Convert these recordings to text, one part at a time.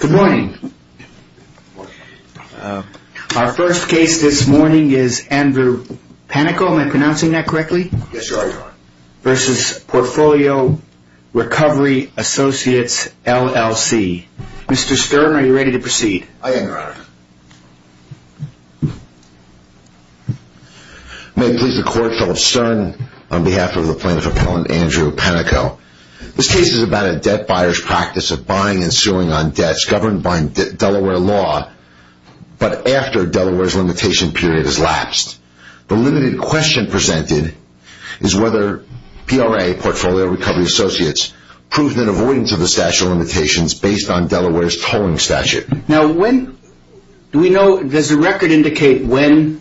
Good morning. Our first case this morning is Andrew Panico, am I pronouncing that correctly? Yes, you are, Your Honor. v. Portfolio Recovery Associates, LLC. Mr. Stern, are you ready to proceed? I am, Your Honor. May it please the Court, Philip Stern on behalf of the plaintiff appellant Andrew Panico. This case is about a debt buyer's practice of buying and suing on debts governed by Delaware law, but after Delaware's limitation period has lapsed. The limited question presented is whether PRA, Portfolio Recovery Associates, proved an avoidance of the statute of limitations based on Delaware's tolling statute. Now when, do we know, does the record indicate when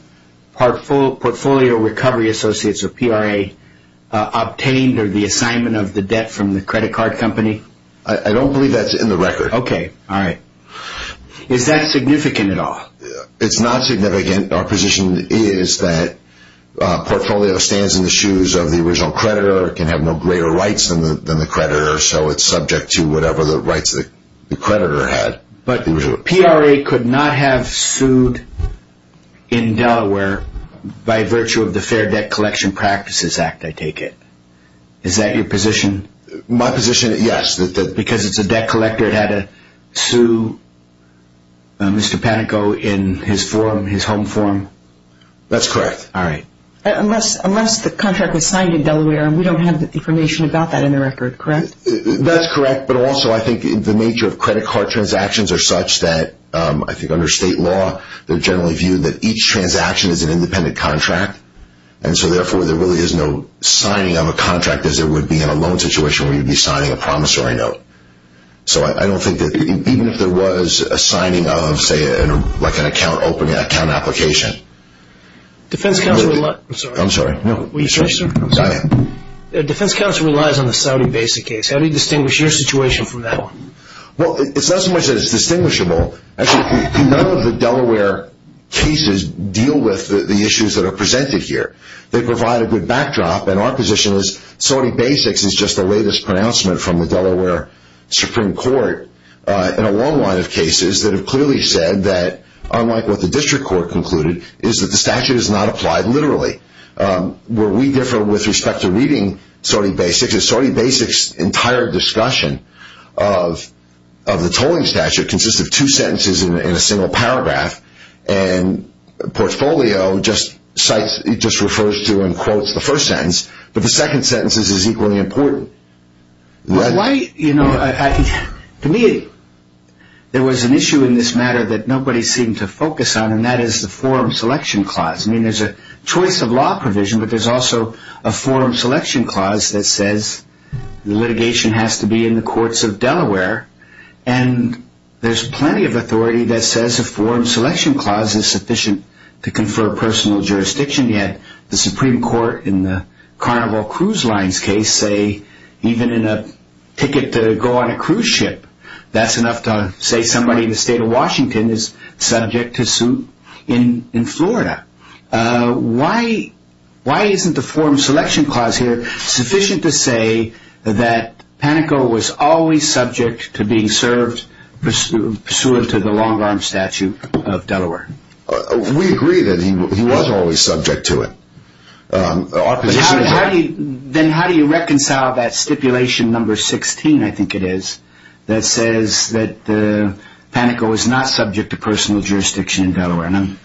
Portfolio Recovery Associates or PRA obtained or the assignment of the debt from the credit card company? I don't believe that's in the record. Okay, all right. Is that significant at all? It's not significant. Our position is that Portfolio stands in the shoes of the original creditor or can have no greater rights than the creditor, so it's subject to whatever the rights the creditor had. But PRA could not have sued in Delaware by virtue of the Fair Debt Collection Practices Act, I take it. Is that your position? My position, yes. Because it's a debt collector, it had to sue Mr. Panico in his form, his home form? That's correct. All right. Unless the contract was signed in Delaware and we don't have the information about that in the record, correct? That's correct. But also I think the nature of credit card transactions are such that, I think under state law, they're generally viewed that each transaction is an independent contract. And so therefore there really is no signing of a contract as there would be in a loan situation where you'd be signing a promissory note. So I don't think that even if there was a signing of, say, like an account opening, an account application. Defense counsel relies... I'm sorry. Will you say, sir? I'm sorry. Defense counsel relies on the Saudi basic case. How do you distinguish your situation from that one? Well, it's not so much that it's distinguishable. Actually, none of the Delaware cases deal with the issues that are presented here. They provide a good backdrop. And our position is Saudi basics is just the latest pronouncement from the Delaware Supreme Court in a long line of cases that have clearly said that, unlike what the district court concluded, is that the statute is not applied literally. Where we differ with respect to reading Saudi basics is Saudi basics' entire discussion of the tolling statute consists of two sentences in a single paragraph. And portfolio just refers to and quotes the first sentence. But the second sentence is equally important. To me, there was an issue in this matter that nobody seemed to focus on, and that is the forum selection clause. I mean, there's a choice of law provision, but there's also a forum selection clause that says litigation has to be in the courts of Delaware. And there's plenty of authority that says a forum selection clause is sufficient to confer personal jurisdiction. Yet the Supreme Court in the Carnival Cruise Lines case say even in a ticket to go on a cruise ship, that's enough to say somebody in the state of Washington is subject to suit in Florida. Why isn't the forum selection clause here sufficient to say that Panico was always subject to being served pursuant to the long arm statute of Delaware? We agree that he was always subject to it. Then how do you reconcile that stipulation number 16, I think it is, that says that Panico is not subject to personal jurisdiction in Delaware? And I'm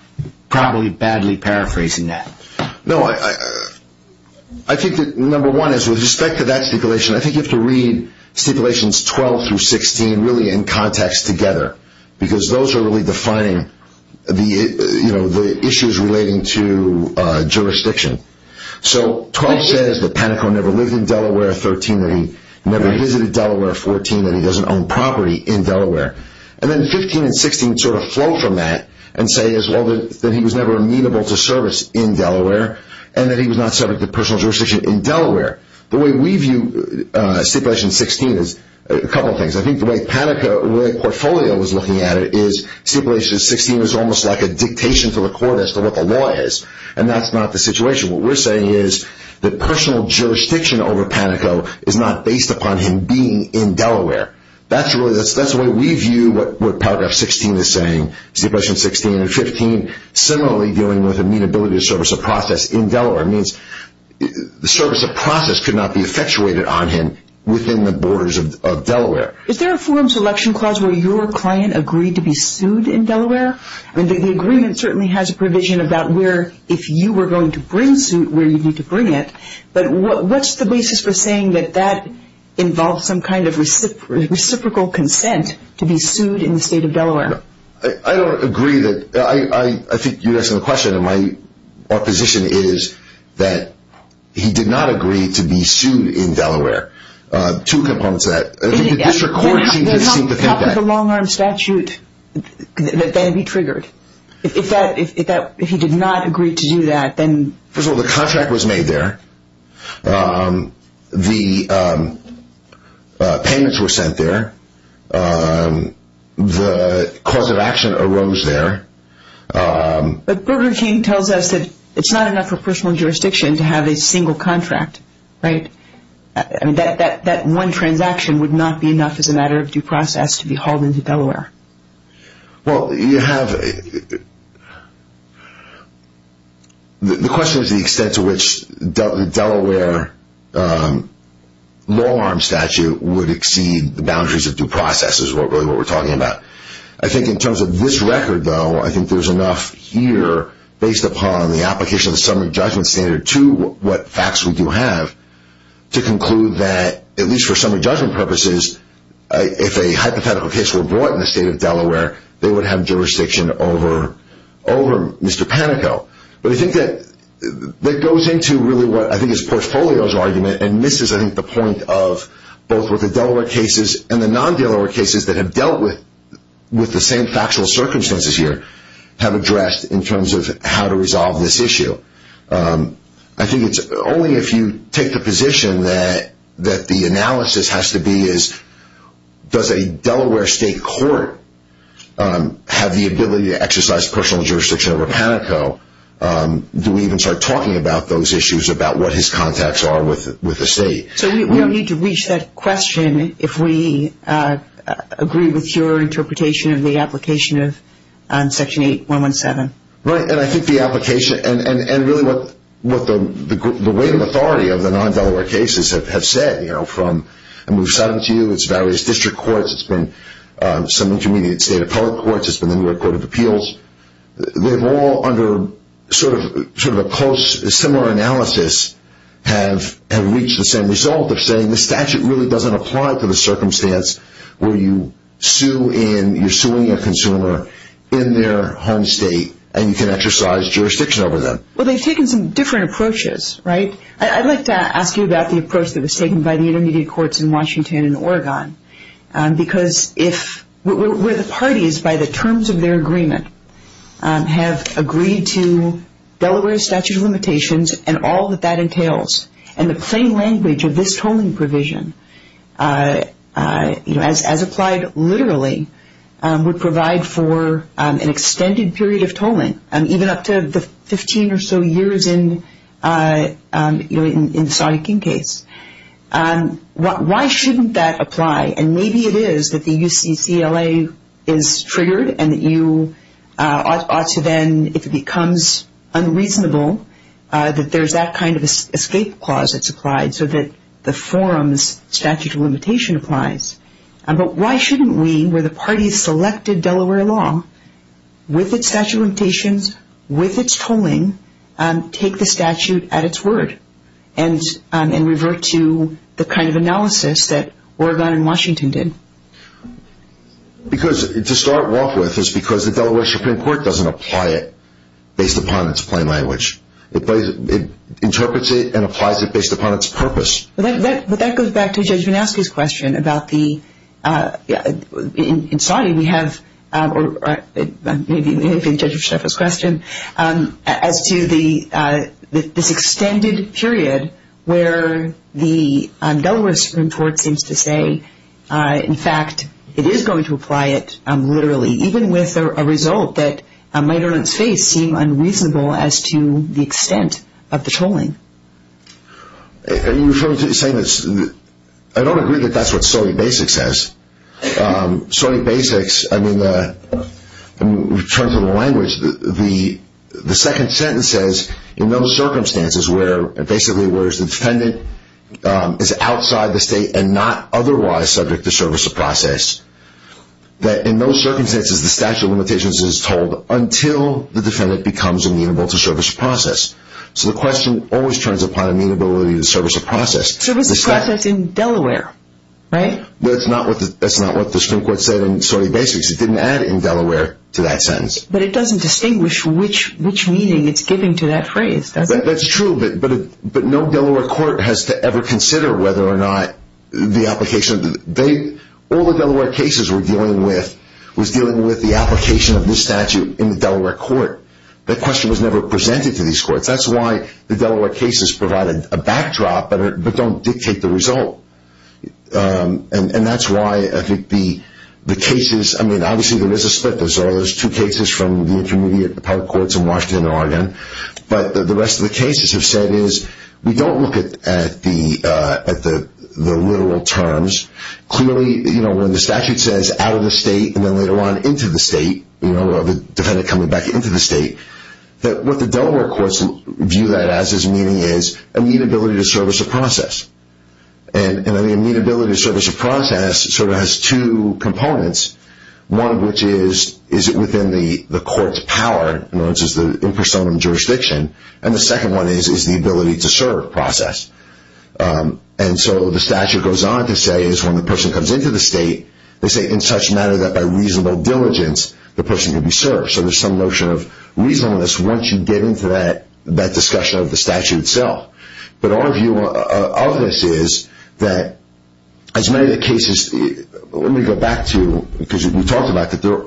probably badly paraphrasing that. No, I think that number one is with respect to that stipulation, I think you have to read stipulations 12 through 16 really in context together, because those are really defining the issues relating to jurisdiction. So 12 says that Panico never lived in Delaware, 13 that he never visited Delaware, 14 that he doesn't own property in Delaware, and then 15 and 16 sort of flow from that and say that he was never amenable to service in Delaware, and that he was not subject to personal jurisdiction in Delaware. The way we view stipulation 16 is a couple of things. I think the way Panico's portfolio was looking at it is stipulation 16 is almost like a dictation to the court as to what the law is, and that's not the situation. What we're saying is that personal jurisdiction over Panico is not based upon him being in Delaware. That's the way we view what paragraph 16 is saying, stipulation 16 and 15, similarly dealing with amenability to service of process in Delaware. It means the service of process could not be effectuated on him within the borders of Delaware. Is there a forum selection clause where your client agreed to be sued in Delaware? The agreement certainly has a provision about where, if you were going to bring suit, where you'd need to bring it, but what's the basis for saying that that involves some kind of reciprocal consent to be sued in the state of Delaware? I don't agree that, I think you're asking the question, and my position is that he did not agree to be sued in Delaware. Two components to that. I think the district court seems to seem to think that. Then how could the long-arm statute then be triggered? If he did not agree to do that, then... First of all, the contract was made there. The payments were sent there. The cause of action arose there. But Burger King tells us that it's not enough for personal jurisdiction to have a single contract, right? That one transaction would not be enough as a matter of due process to be hauled into Delaware. Well, you have... The question is the extent to which the Delaware long-arm statute would exceed the boundaries of due process, is really what we're talking about. I think in terms of this record, though, I think there's enough here, based upon the application of the summary judgment standard to what facts we do have, to conclude that, at least for summary judgment purposes, if a hypothetical case were brought in the state of Delaware, they would have jurisdiction over Mr. Panico. But I think that goes into really what I think is Portfolio's argument, and misses, I think, the point of both with the Delaware cases and the non-Delaware cases that have dealt with the same factual circumstances here, have addressed in terms of how to resolve this issue. I think it's only if you take the position that the analysis has to be does a Delaware state court have the ability to exercise personal jurisdiction over Panico, do we even start talking about those issues, about what his contacts are with the state. So we don't need to reach that question if we agree with your interpretation of the application of Section 8117. Right, and I think the application, and really what the weight of authority of the non-Delaware cases have said, from, and we've cited it to you, it's various district courts, it's been some intermediate state appellate courts, it's been the New York Court of Appeals, they've all, under sort of a close, similar analysis, have reached the same result of saying the statute really doesn't apply to the circumstance where you sue in, you're suing a consumer in their home state, and you can exercise jurisdiction over them. Well, they've taken some different approaches, right? I'd like to ask you about the approach that was taken by the intermediate courts in Washington and Oregon, because if, where the parties, by the terms of their agreement, have agreed to Delaware's statute of limitations and all that that entails, and the plain language of this tolling provision, as applied literally, would provide for an extended period of tolling, even up to the 15 or so years in the Saudi King case. Why shouldn't that apply? And maybe it is that the UCCLA is triggered, and that you ought to then, if it becomes unreasonable, that there's that kind of escape clause that's applied, so that the forum's statute of limitation applies. But why shouldn't we, where the parties selected Delaware law, with its statute of limitations, with its tolling, take the statute at its word, and revert to the kind of analysis that Oregon and Washington did? Because, to start off with, it's because the Delaware Supreme Court doesn't apply it based upon its plain language. It interprets it and applies it based upon its purpose. But that goes back to Judge Minowsky's question about the, in Saudi we have, or maybe if it's the judge's question, as to this extended period where the Delaware Supreme Court seems to say, in fact, it is going to apply it literally, even with a result that might on its face seem unreasonable as to the extent of the tolling. Are you referring to the same as, I don't agree that that's what Saudi Basics says. Saudi Basics, I mean, we've turned to the language, the second sentence says, in those circumstances where, basically where the defendant is outside the state and not otherwise subject to service or process, that in those circumstances the statute of limitations is tolled until the defendant becomes amenable to service or process. So the question always turns upon amenability to service or process. Service or process in Delaware, right? That's not what the Supreme Court said in Saudi Basics. It didn't add in Delaware to that sentence. But it doesn't distinguish which meaning it's giving to that phrase, does it? That's true, but no Delaware court has to ever consider whether or not the application, all the Delaware cases we're dealing with, was dealing with the application of this statute in the Delaware court. That question was never presented to these courts. That's why the Delaware cases provide a backdrop, but don't dictate the result. And that's why I think the cases, I mean, obviously there is a split. There's two cases from the Intermediate Part Courts in Washington and Oregon. But the rest of the cases have said is, we don't look at the literal terms. Clearly, when the statute says, out of the state, and then later on into the state, the defendant coming back into the state, that what the Delaware courts view that as as meaning is, a mean ability to service a process. And I mean, a mean ability to service a process sort of has two components. One of which is, is it within the court's power, in other words, is the impersonal jurisdiction. And the second one is, is the ability to serve process. And so the statute goes on to say is, when the person comes into the state, they say in such matter that by reasonable diligence, the person can be served. So there's some notion of reasonableness once you get into that, that discussion of the statute itself. But our view of this is that, as many of the cases, let me go back to, because we talked about that there,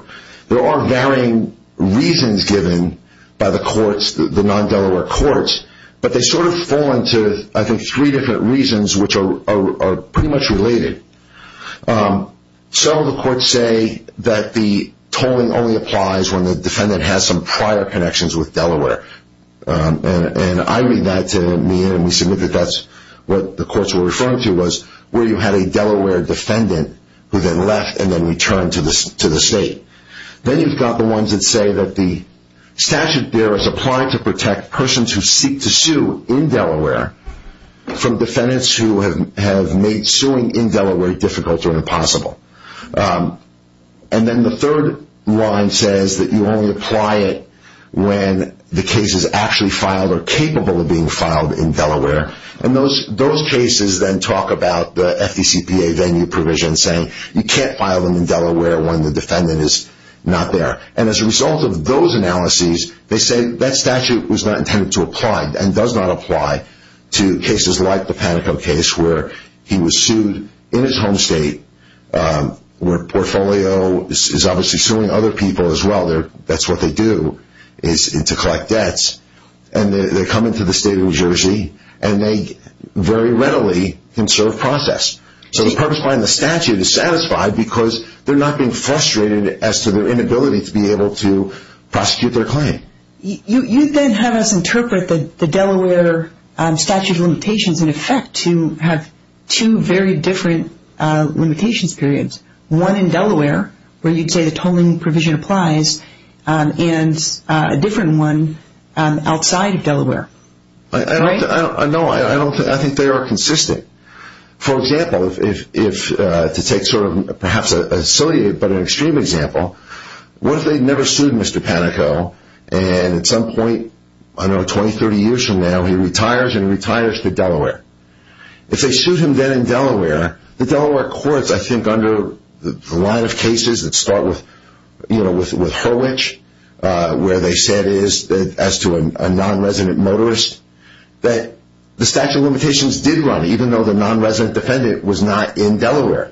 there are varying reasons given by the courts, the non-Delaware courts. But they sort of fall into, I think, three different reasons which are pretty much related. So the courts say that the tolling only applies when the defendant has some prior connections with Delaware. And I read that to me, and we submit that that's what the courts were referring to was, where you had a Delaware defendant who then left and then returned to the state. Then you've got the ones that say that the statute there is applied to protect persons who seek to sue in Delaware from defendants who have made suing in Delaware difficult or impossible. And then the third line says that you only apply it when the case is actually filed or capable of being filed in Delaware. And those cases then talk about the FDCPA venue provision, saying you can't file them in Delaware when the defendant is not there. And as a result of those analyses, they say that statute was not intended to apply and does not apply to cases like the Panico case, where he was sued in his home state, where Portfolio is obviously suing other people as well. That's what they do, is to collect debts. And they come into the state of New Jersey, and they very readily can serve process. So the purpose behind the statute is satisfied because they're not being frustrated as to their inability to be able to prosecute their claim. You then have us interpret the Delaware statute of limitations in effect to have two very different limitations periods. One in Delaware, where you'd say the tolling provision applies, and a different one outside of Delaware. Right? No, I think they are consistent. For example, to take sort of perhaps a silly but an extreme example, what if they never sued Mr. Panico, and at some point, I don't know, 20, 30 years from now, he retires, and he retires to Delaware. If they sue him then in Delaware, the Delaware courts, I think, under the line of cases that start with, you know, with Hurwicz, where they say it is, as to a non-resident motorist, that the statute of limitations did run, even though the non-resident defendant was not in Delaware.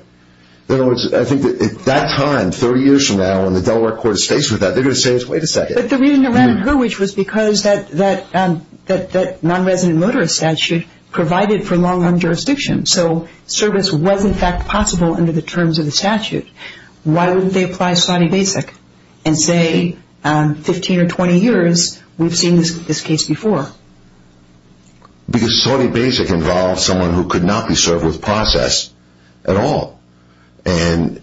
In other words, I think that at that time, 30 years from now, when the Delaware court is faced with that, they're going to say, wait a second. But the reason it ran in Hurwicz was because that non-resident motorist statute provided for long-run jurisdiction. So service was, in fact, possible under the terms of the statute. Why wouldn't they apply Sawney Basic and say, 15 or 20 years, we've seen this case before? Because Sawney Basic involved someone who could not be served with process at all. And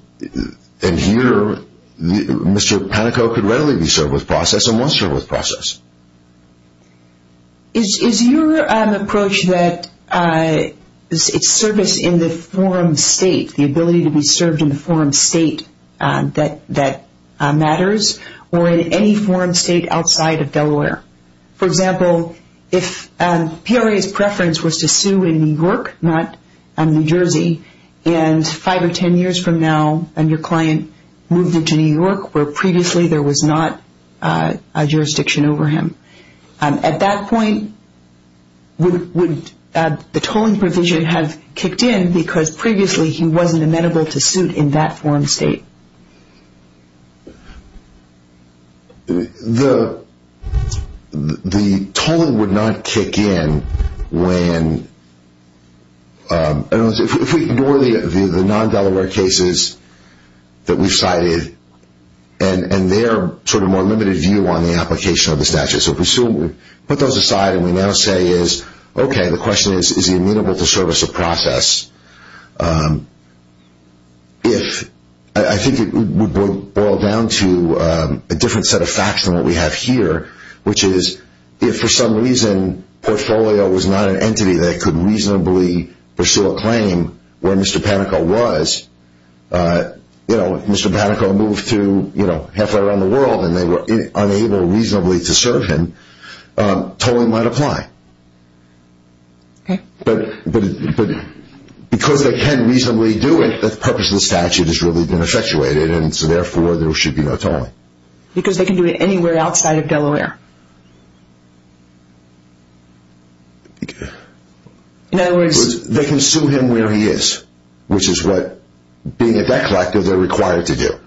here, Mr. Panico could readily be served with process as someone served with process. Is your approach that it's service in the forum state, the ability to be served in the forum state that matters, or in any forum state outside of Delaware? For example, if PRA's preference was to sue in New York, not New Jersey, and 5 or 10 years from now, and your client moved into New York, where previously there was not a jurisdiction over him, at that point, would the tolling provision have kicked in, because previously he wasn't amenable to suit in that forum state? The tolling would not kick in when, if we ignore the non-Delaware cases that we cited, and their sort of more limited view on the application of the statute. So if we put those aside, and we now say, okay, the question is, is he amenable to service of process? I think it would boil down to a different set of facts than what we have here, which is, if for some reason, Portfolio was not an entity that could reasonably pursue a claim where Mr. Panico was, you know, if Mr. Panico moved to, you know, halfway around the world, and they were unable reasonably to serve him, tolling might apply. But because they can reasonably do it, the purpose of the statute has really been effectuated, and so therefore, there should be no tolling. Because they can do it anywhere outside of Delaware? In other words... They can sue him where he is, which is what, being at that collective, they're required to do.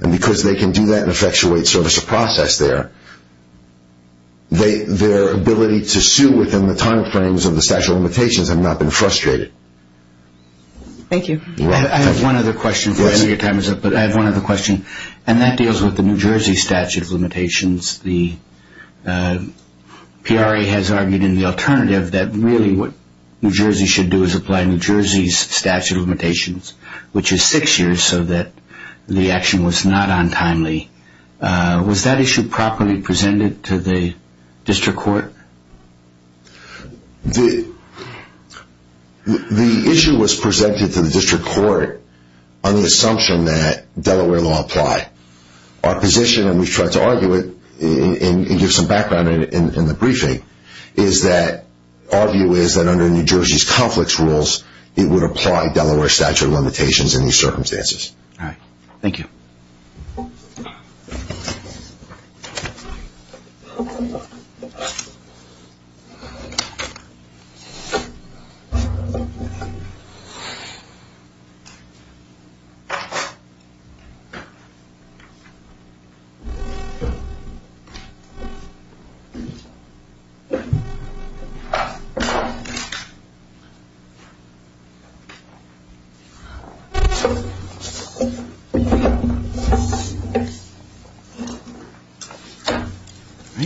And because they can do that and effectuate service of process there, their ability to sue within the time frames of the statute of limitations have not been frustrated. Thank you. I have one other question before I know your time is up, but I have one other question, and that deals with the New Jersey statute of limitations, the New Jersey statute of limitations. PRA has argued in the alternative that really what New Jersey should do is apply New Jersey's statute of limitations, which is six years, so that the action was not untimely. Was that issue properly presented to the district court? The issue was presented to the district court on the assumption that Delaware law apply. Our position, and we've tried to argue it, and give some background in the briefing, is that our view is that under New Jersey's conflicts rules, it would apply Delaware statute of limitations in these circumstances. Thank you.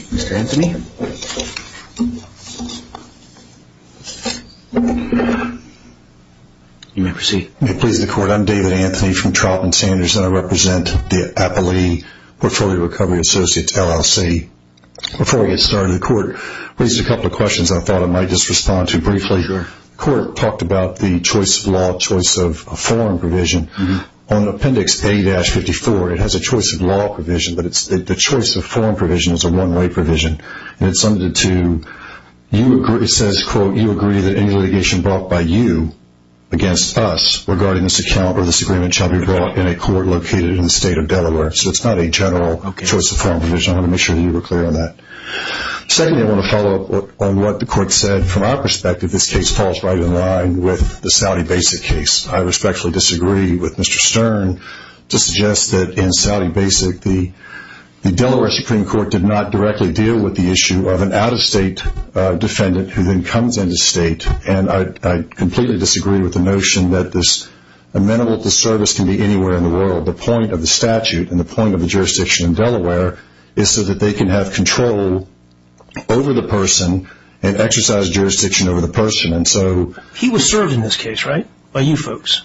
Mr. Anthony. You may proceed. Please, the court. I'm David Anthony from Trautman Sanders, and I represent the Appalachian Portfolio Recovery Associates LLC. Before we get started, the court raised a couple of questions that I thought I might just respond to briefly. The court talked about the choice of law, choice of a form provision. On Appendix A-54, it has a choice of law provision, but the choice of form provision is a one-way provision. It says, quote, you agree that any litigation brought by you against us regarding this account or this agreement shall be brought in a court located in the state of Delaware. So it's not a general choice of form provision. I want to make sure that you were clear on that. Secondly, I want to follow up on what the court said. From our perspective, this case falls right in line with the Saudi Basic case. I respectfully disagree with Mr. Stern to suggest that in Saudi Basic, the Delaware Supreme Court did not directly deal with the issue of an out-of-state defendant who then comes into state, and I completely disagree with the notion that this amenable disservice can be anywhere in the world. The point of the statute and the point of the jurisdiction in Delaware is so that they can have control over the person and exercise jurisdiction over the person. He was served in this case, right, by you folks?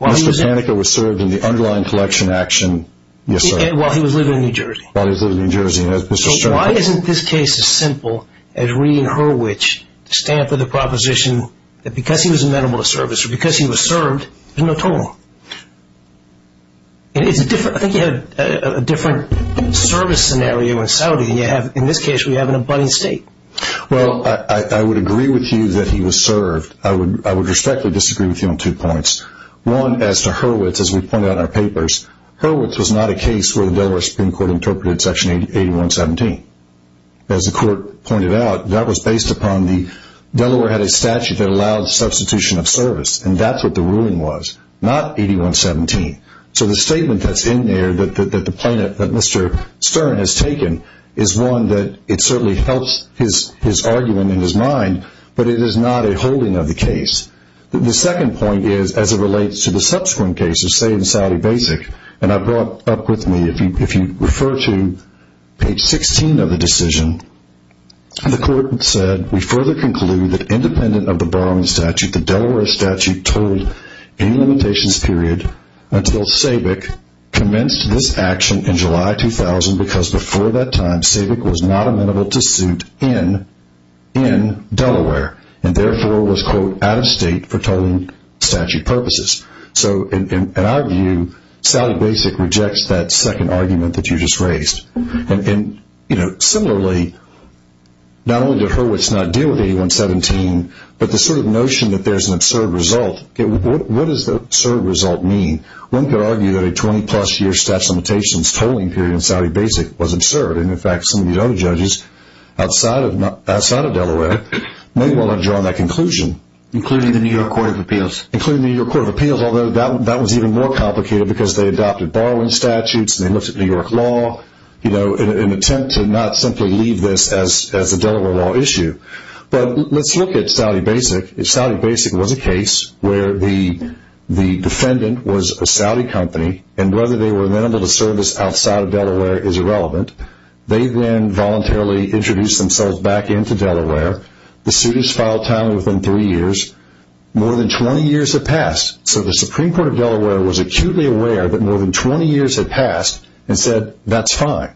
Mr. Panica was served in the underlying collection action yesterday. While he was living in New Jersey. While he was living in New Jersey, yes. So why isn't this case as simple as reading Hurwicz to stand for the proposition that because he was amenable to service or because he was served, there's no total? I think you have a different service scenario in Saudi. In this case, we have an abutting state. Well, I would agree with you that he was served. I would respectfully disagree with you on two points. One, as to Hurwicz, as we pointed out in our papers, Hurwicz was not a case where the Delaware Supreme Court interpreted Section 8117. As the court pointed out, that was based upon the Delaware had a statute that allowed substitution of service, and that's what the ruling was. Not 8117. So the statement that's in there, that Mr. Stern has taken, is one that it certainly helps his argument in his mind, but it is not a holding of the case. The second point is, as it relates to the subsequent cases, say in Saudi Basic, and I brought up with me, if you refer to page 16 of the decision, the court said, we further conclude that independent of the borrowing statute, the Delaware statute told any limitations, period, until SABIC commenced this action in July 2000, because before that time, SABIC was not amenable to suit in Delaware, and therefore was, quote, out of state for tolling statute purposes. So in our view, Saudi Basic rejects that second argument that you just raised. Similarly, not only did Hurwicz not deal with 8117, but the sort of notion that there's an absurd result, what does the absurd result mean? One could argue that a 20-plus year statute of limitations tolling period in Saudi Basic was absurd, and in fact, some of these other judges outside of Delaware may well have drawn that conclusion. Including the New York Court of Appeals. Including the New York Court of Appeals, although that was even more complicated, because they adopted borrowing statutes, and they looked at New York law, in an attempt to not simply leave this as a Delaware law issue. But let's look at Saudi Basic. If Saudi Basic was a case where the defendant was a Saudi company, and whether they were amenable to service outside of Delaware is irrelevant. They then voluntarily introduced themselves back into Delaware. The suit is filed timely within three years. More than 20 years had passed. So the Supreme Court of Delaware was acutely aware that more than 20 years had passed, and said, that's fine.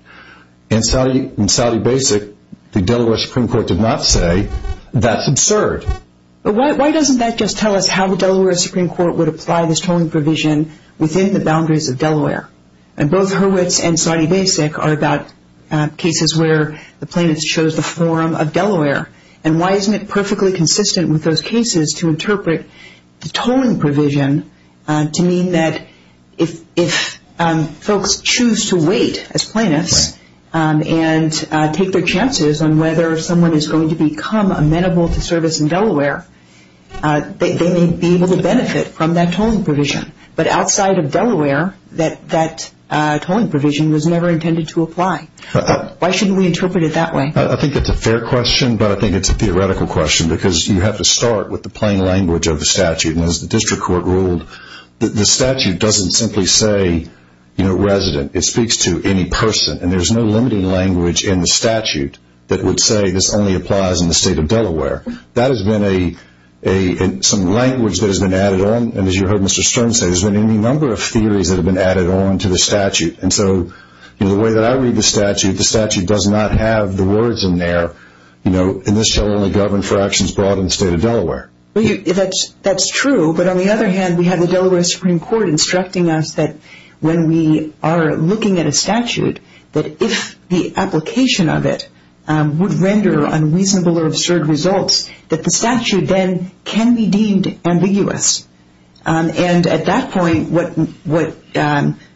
In Saudi Basic, the Delaware Supreme Court did not say, that's absurd. But why doesn't that just tell us how the Delaware Supreme Court would apply this tolling provision within the boundaries of Delaware? And both Hurwitz and Saudi Basic are about cases where the plaintiffs chose the forum of Delaware. And why isn't it perfectly consistent with those cases to interpret the tolling provision to mean that if folks choose to wait as plaintiffs, and take their chances on whether someone is going to become amenable to service in Delaware, they may be able to benefit from that tolling provision. But outside of Delaware, that tolling provision was never intended to apply. Why shouldn't we interpret it that way? I think it's a fair question, but I think it's a theoretical question, because you have to start with the plain language of the statute. And as the district court ruled, the statute doesn't simply say resident. It speaks to any person. And there's no limited language in the statute that would say, this only applies in the state of Delaware. That has been some language that has been added on, and as you heard Mr. Stern say, there's been any number of theories that have been added on to the statute. And so the way that I read the statute, the statute does not have the words in there, and this shall only govern for actions brought in the state of Delaware. Well, that's true, but on the other hand, we have the Delaware Supreme Court instructing us that when we are looking at a statute, that if the application of it would render unreasonable or absurd results, that the statute then can be deemed ambiguous. And at that point, what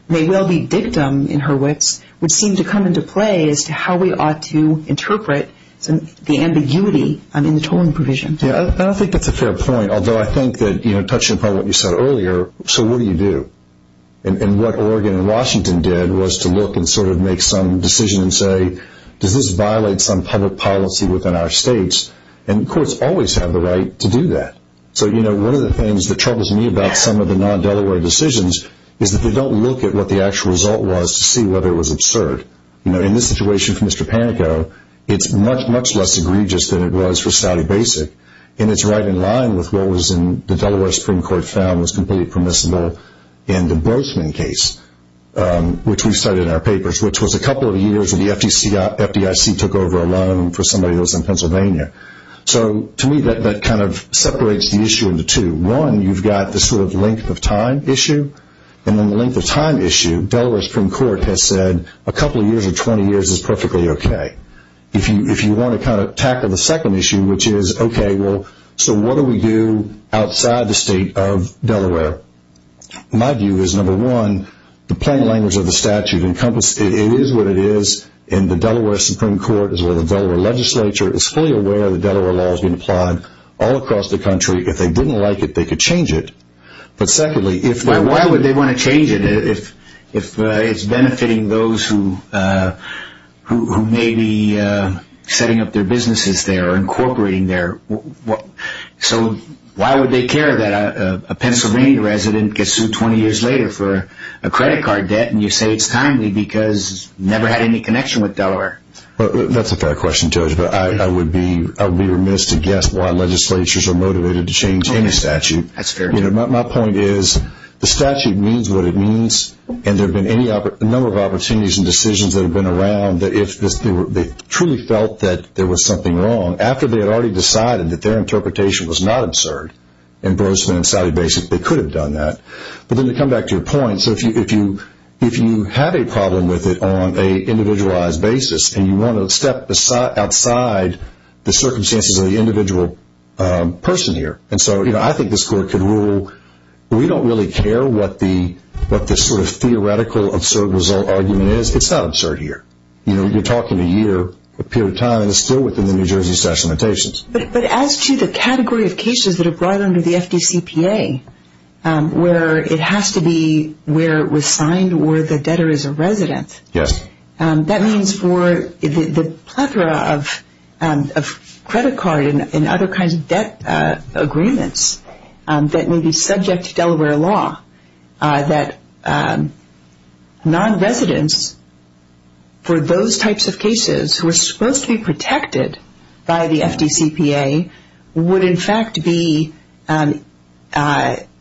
may well be dictum in her wits would seem to come into play as to how we ought to interpret the ambiguity in the tolling provision. I don't think that's a fair point, although I think that touching upon what you said earlier, so what do you do? And what Oregon and Washington did was to look and sort of make some decision and say, does this violate some public policy within our states? And courts always have the right to do that. So one of the things that troubles me about some of the non-Delaware decisions is that they don't look at what the actual result was to see whether it was absurd. You know, in this situation for Mr. Panico, it's much, much less egregious than it was for Stoudy Basic. And it's right in line with what was in the Delaware Supreme Court found was completely permissible in the Brochman case, which we cited in our papers, which was a couple of years that the FDIC took over a loan for somebody that was in Pennsylvania. So to me, that kind of separates the issue into two. One, you've got this sort of length of time issue. And on the length of time issue, Delaware Supreme Court has said a couple of years or 20 years is perfectly okay. If you want to kind of tackle the second issue, which is, okay, well, so what do we do outside the state of Delaware? My view is, number one, the plain language of the statute. It is what it is. And the Delaware Supreme Court is where the Delaware legislature is fully aware that Delaware law has been applied all across the country. If they didn't like it, they could change it. But secondly, if... Why would they want to change it if it's benefiting those who may be setting up their businesses there or incorporating there? So why would they care that a Pennsylvania resident gets sued 20 years later for a credit card debt and you say it's timely because never had any connection with Delaware? That's a fair question, Judge, but I would be remiss to guess why legislatures are motivated to change any statute. That's fair. My point is, the statute means what it means. And there have been a number of opportunities and decisions that have been around that if they truly felt that there was something wrong, after they had already decided that their interpretation was not absurd, in Brosman and Sallie Basic, they could have done that. But then to come back to your point, so if you have a problem with it on an individualized basis and you want to step outside the circumstances of the individual person here. And so I think this court could rule, we don't really care what the theoretical absurd result argument is, it's not absurd here. You're talking a year, a period of time, and it's still within the New Jersey Statute of Limitations. But as to the category of cases that are brought under the FDCPA, where it has to be where it was signed or the debtor is a resident, that means for the plethora of credit card and other kinds of debt agreements that may be subject to Delaware law, that non-residents for those types of cases who are supposed to be protected by the FDCPA would, in fact, be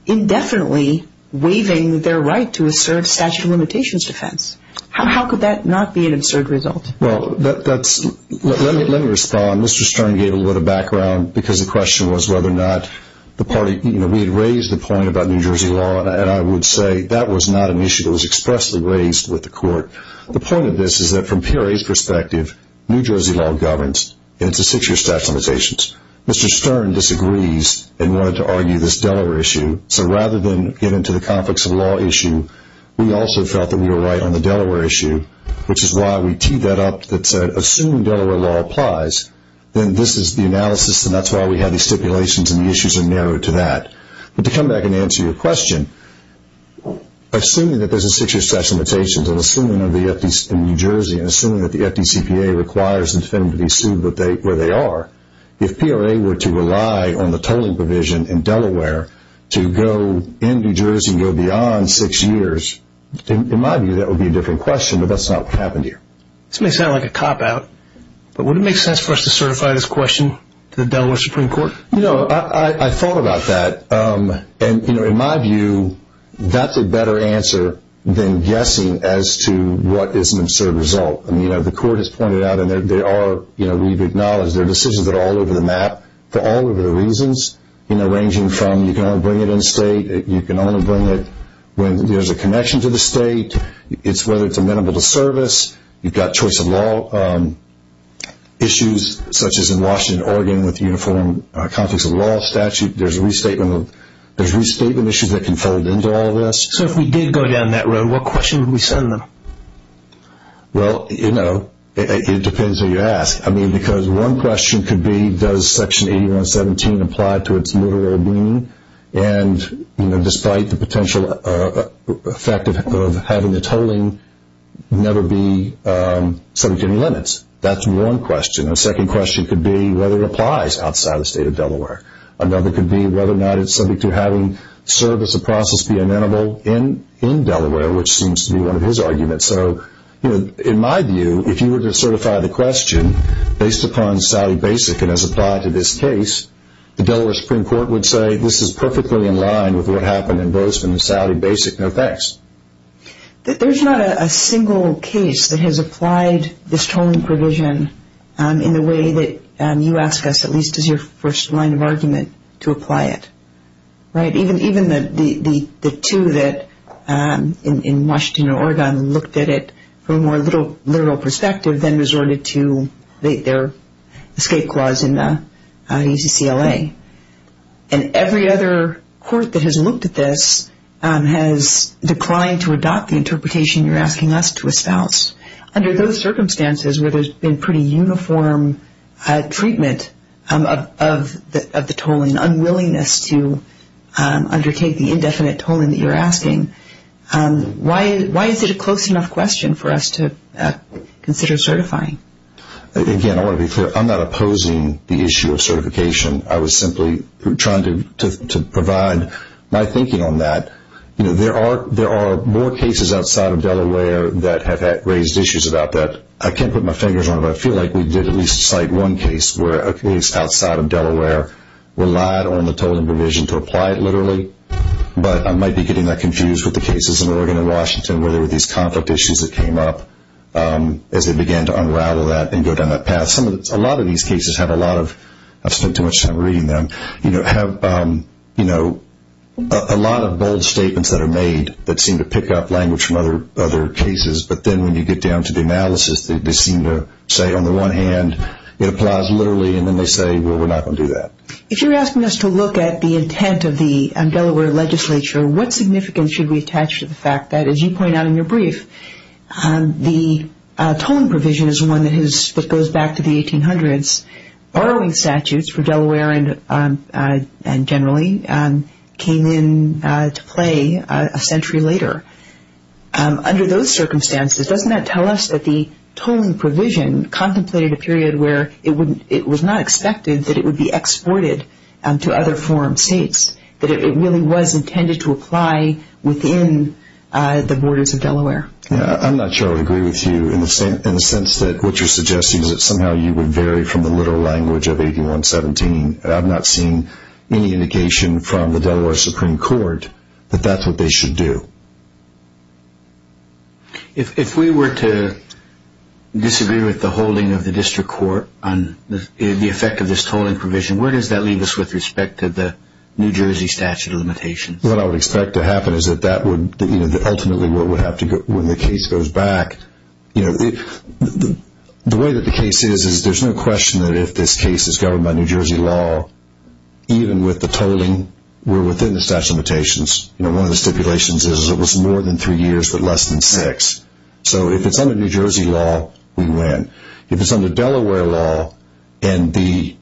indefinitely waiving their right to assert statute of limitations defense. How could that not be an absurd result? Well, let me respond. Mr. Stern gave a little background because the question was whether or not the party, you know, we had raised the point about New Jersey law and I would say that was not an issue that was expressly raised with the court. The point of this is that from PRA's perspective, New Jersey law governs and it's a six-year statute of limitations. Mr. Stern disagrees and wanted to argue this Delaware issue. So rather than get into the complex of law issue, we also felt that we were right on the Delaware issue, which is why we teed that up that said assuming Delaware law applies, then this is the analysis and that's why we have these stipulations and the issues are narrowed to that. But to come back and answer your question, assuming that there's a six-year statute of limitations and assuming in New Jersey and assuming that the FDCPA requires the defendant to be sued where they are, if PRA were to rely on the tolling provision in Delaware to go in New Jersey and go beyond six years, in my view that would be a different question, but that's not what happened here. This may sound like a cop-out, but would it make sense for us to certify this question to the Delaware Supreme Court? You know, I thought about that and, you know, in my view that's a better answer than guessing as to what is an absurd result. I mean, you know, the court has pointed out and they are, you know, we've acknowledged their decisions are all over the map for all of the reasons, you know, you can only bring it in state, you can only bring it when there's a connection to the state, whether it's amenable to service, you've got choice of law issues such as in Washington, Oregon, with uniform conflicts of law statute, there's restatement issues that can fold into all of this. So if we did go down that road, what question would we send them? Well, you know, it depends who you ask. I mean, because one question could be does Section 8117 apply to its literal meaning and, you know, despite the potential effect of having the tolling never be subject to any limits. That's one question. A second question could be whether it applies outside the state of Delaware. Another could be whether or not it's subject to having service of process be amenable in Delaware, which seems to be one of his arguments. So, you know, in my view, if you were to certify the question based upon Saudi BASIC and as applied to this case, the Delaware Supreme Court would say this is perfectly in line with what happened in Bozeman and Saudi BASIC, no thanks. There's not a single case that has applied this tolling provision in the way that you ask us, at least as your first line of argument, to apply it, right? Even the two that in Washington and Oregon looked at it from a more literal perspective than resorted to their escape clause in the EZCLA. And every other court that has looked at this has declined to adopt the interpretation you're asking us to espouse. Under those circumstances where there's been pretty uniform treatment of the tolling, and an unwillingness to undertake the indefinite tolling that you're asking, why is it a close enough question for us to consider certifying? Again, I want to be clear, I'm not opposing the issue of certification. I was simply trying to provide my thinking on that. There are more cases outside of Delaware that have raised issues about that. I can't put my fingers on it, but I feel like we did at least cite one case where a case outside of Delaware relied on the tolling provision to apply it literally. But I might be getting that confused with the cases in Oregon and Washington, where there were these conflict issues that came up as they began to unravel that and go down that path. A lot of these cases have a lot of, I've spent too much time reading them, have a lot of bold statements that are made that seem to pick up language from other cases. But then when you get down to the analysis, they seem to say on the one hand, it applies literally, and then they say, well, we're not going to do that. If you're asking us to look at the intent of the Delaware legislature, what significance should we attach to the fact that, as you point out in your brief, the tolling provision is one that goes back to the 1800s. Borrowing statutes for Delaware and generally came into play a century later. Under those circumstances, doesn't that tell us that the tolling provision contemplated a period where it was not expected that it would be exported to other foreign states, that it really was intended to apply within the borders of Delaware? I'm not sure I would agree with you in the sense that what you're suggesting is that somehow you would vary from the literal language of 8117. I've not seen any indication from the Delaware Supreme Court that that's what they should do. If we were to disagree with the holding of the district court on the effect of this tolling provision, where does that leave us with respect to the New Jersey statute of limitations? What I would expect to happen is that ultimately when the case goes back, the way that the case is, there's no question that if this case is governed by New Jersey law, even with the tolling, we're within the statute of limitations. One of the stipulations is it was more than three years but less than six. So if it's under New Jersey law, we win. If it's under Delaware law, if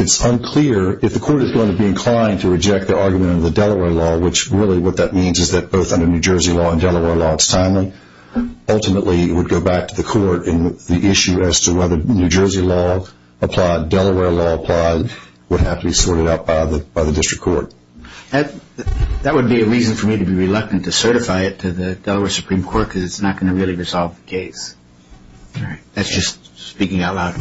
it's unclear, if the court is going to be inclined to reject the argument of the Delaware law, which really what that means is that both under New Jersey law and Delaware law it's timely, ultimately it would go back to the court and the issue as to whether New Jersey law applied, Delaware law applied, would have to be sorted out by the district court. That would be a reason for me to be reluctant to certify it to the Delaware Supreme Court because it's not going to really resolve the case. That's just speaking out loud.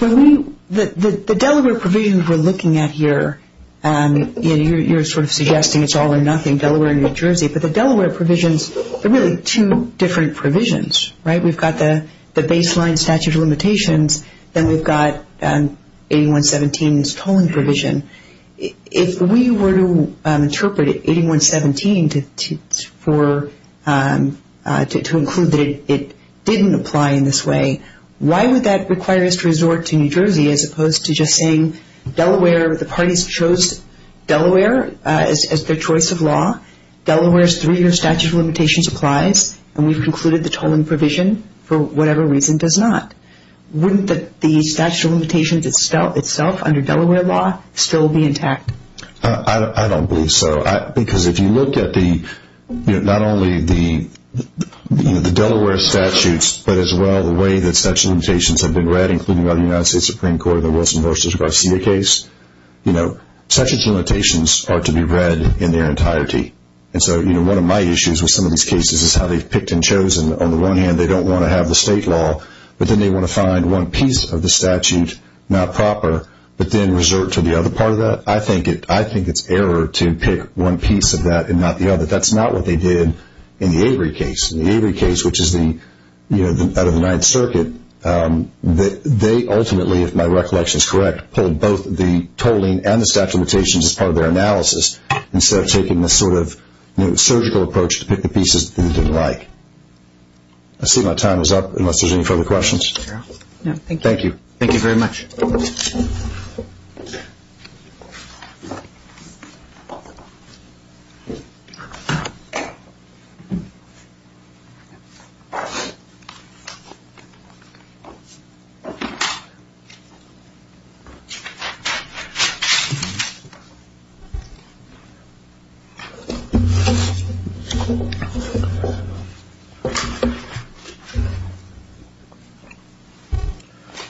The Delaware provisions we're looking at here, you're sort of suggesting it's all or nothing, Delaware and New Jersey, but the Delaware provisions are really two different provisions. We've got the baseline statute of limitations, then we've got 8117's tolling provision. If we were to interpret 8117 to include that it didn't apply in this way, why would that require us to resort to New Jersey as opposed to just saying Delaware, the parties chose Delaware as their choice of law, Delaware's three-year statute of limitations applies, and we've concluded the tolling provision for whatever reason does not. Wouldn't the statute of limitations itself under Delaware law still be intact? I don't believe so. Because if you look at not only the Delaware statutes, but as well the way that statute of limitations have been read, including by the United States Supreme Court, the Wilson v. Garcia case, statute of limitations are to be read in their entirety. One of my issues with some of these cases is how they've picked and chosen. On the one hand, they don't want to have the state law, but then they want to find one piece of the statute not proper, but then resort to the other part of that. I think it's error to pick one piece of that and not the other. That's not what they did in the Avery case. In the Avery case, which is out of the Ninth Circuit, they ultimately, if my recollection is correct, pulled both the tolling and the statute of limitations as part of their analysis, I see my time is up, unless there's any further questions. Thank you. Thank you very much.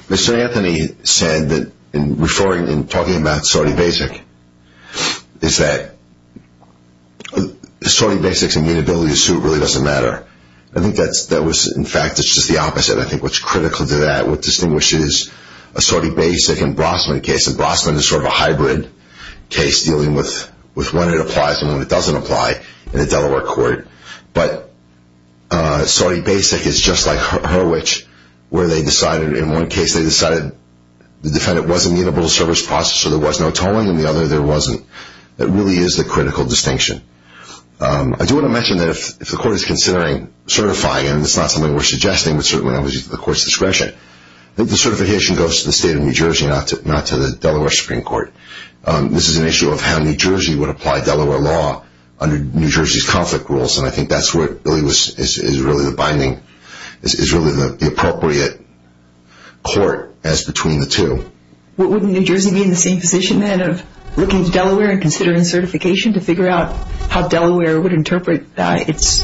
Mr. Anthony said that in referring, in talking about sorting basic, is that sorting basics and mutability of suit really doesn't matter. I think that was, in fact, it's just the opposite. I think what's critical to that, what distinguishes a sorting basic and Brossman case, and Brossman is sort of a hybrid case dealing with when it applies and when it doesn't apply in a Delaware court, but sorting basic and mutability of suit, sorting basic is just like Hurwicz, where they decided, in one case, they decided the defendant wasn't the inability to serve his process, so there was no tolling. In the other, there wasn't. It really is the critical distinction. I do want to mention that if the court is considering certifying, and it's not something we're suggesting, but certainly not at the court's discretion, that the certification goes to the state of New Jersey, not to the Delaware Supreme Court. This is an issue of how New Jersey would apply Delaware law under New Jersey's conflict rules, and I think that's where it really is the binding, is really the appropriate court as between the two. Wouldn't New Jersey be in the same position, then, of looking to Delaware and considering certification to figure out how Delaware would interpret its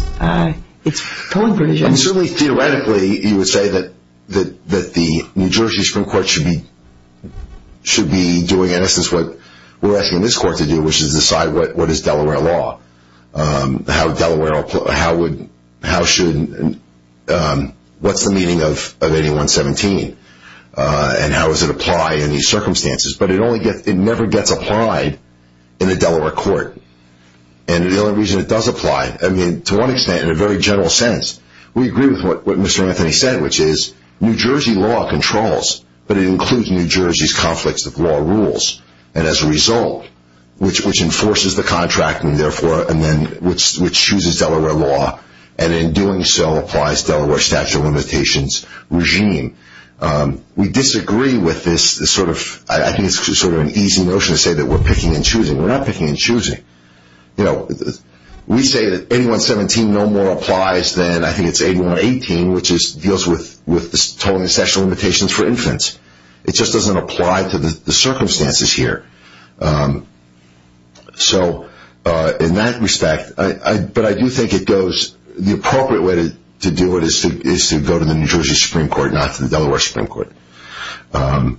tolling provisions? Certainly, theoretically, you would say that the New Jersey Supreme Court should be doing, in essence, what we're asking this court to do, which is decide what is Delaware law, what's the meaning of 8117, and how does it apply in these circumstances, but it never gets applied in a Delaware court, and the only reason it does apply, to one extent, in a very general sense, we agree with what Mr. Anthony said, which is New Jersey law controls, but it includes New Jersey's conflicts of law rules, and as a result, which enforces the contract and, therefore, which chooses Delaware law, and in doing so, applies Delaware statute of limitations regime. We disagree with this. I think it's sort of an easy notion to say that we're picking and choosing. We're not picking and choosing. We say that 8117 no more applies than, I think it's 8118, which deals with tolling and statute of limitations for infants. It just doesn't apply to the circumstances here. So, in that respect, but I do think it goes, the appropriate way to do it is to go to the New Jersey Supreme Court, not to the Delaware Supreme Court, and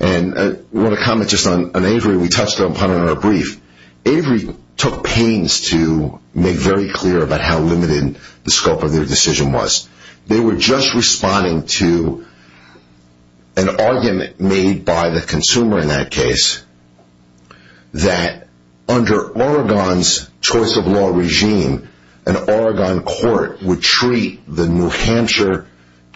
I want to comment just on Avery. We touched upon it in our brief. Avery took pains to make very clear about how limited the scope of their decision was. They were just responding to an argument made by the consumer in that case that under Oregon's choice of law regime, an Oregon court would treat the New Hampshire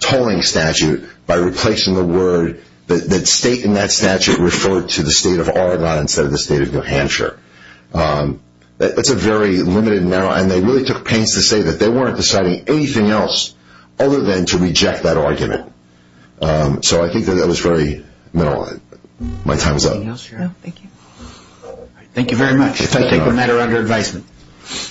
tolling statute by replacing the word that state in that statute referred to the state of Oregon instead of the state of New Hampshire. That's a very limited narrow, and they really took pains to say that they weren't deciding anything else other than to reject that argument. So I think that that was very, no, my time is up. No, thank you. Thank you very much. If I take the matter under advisement.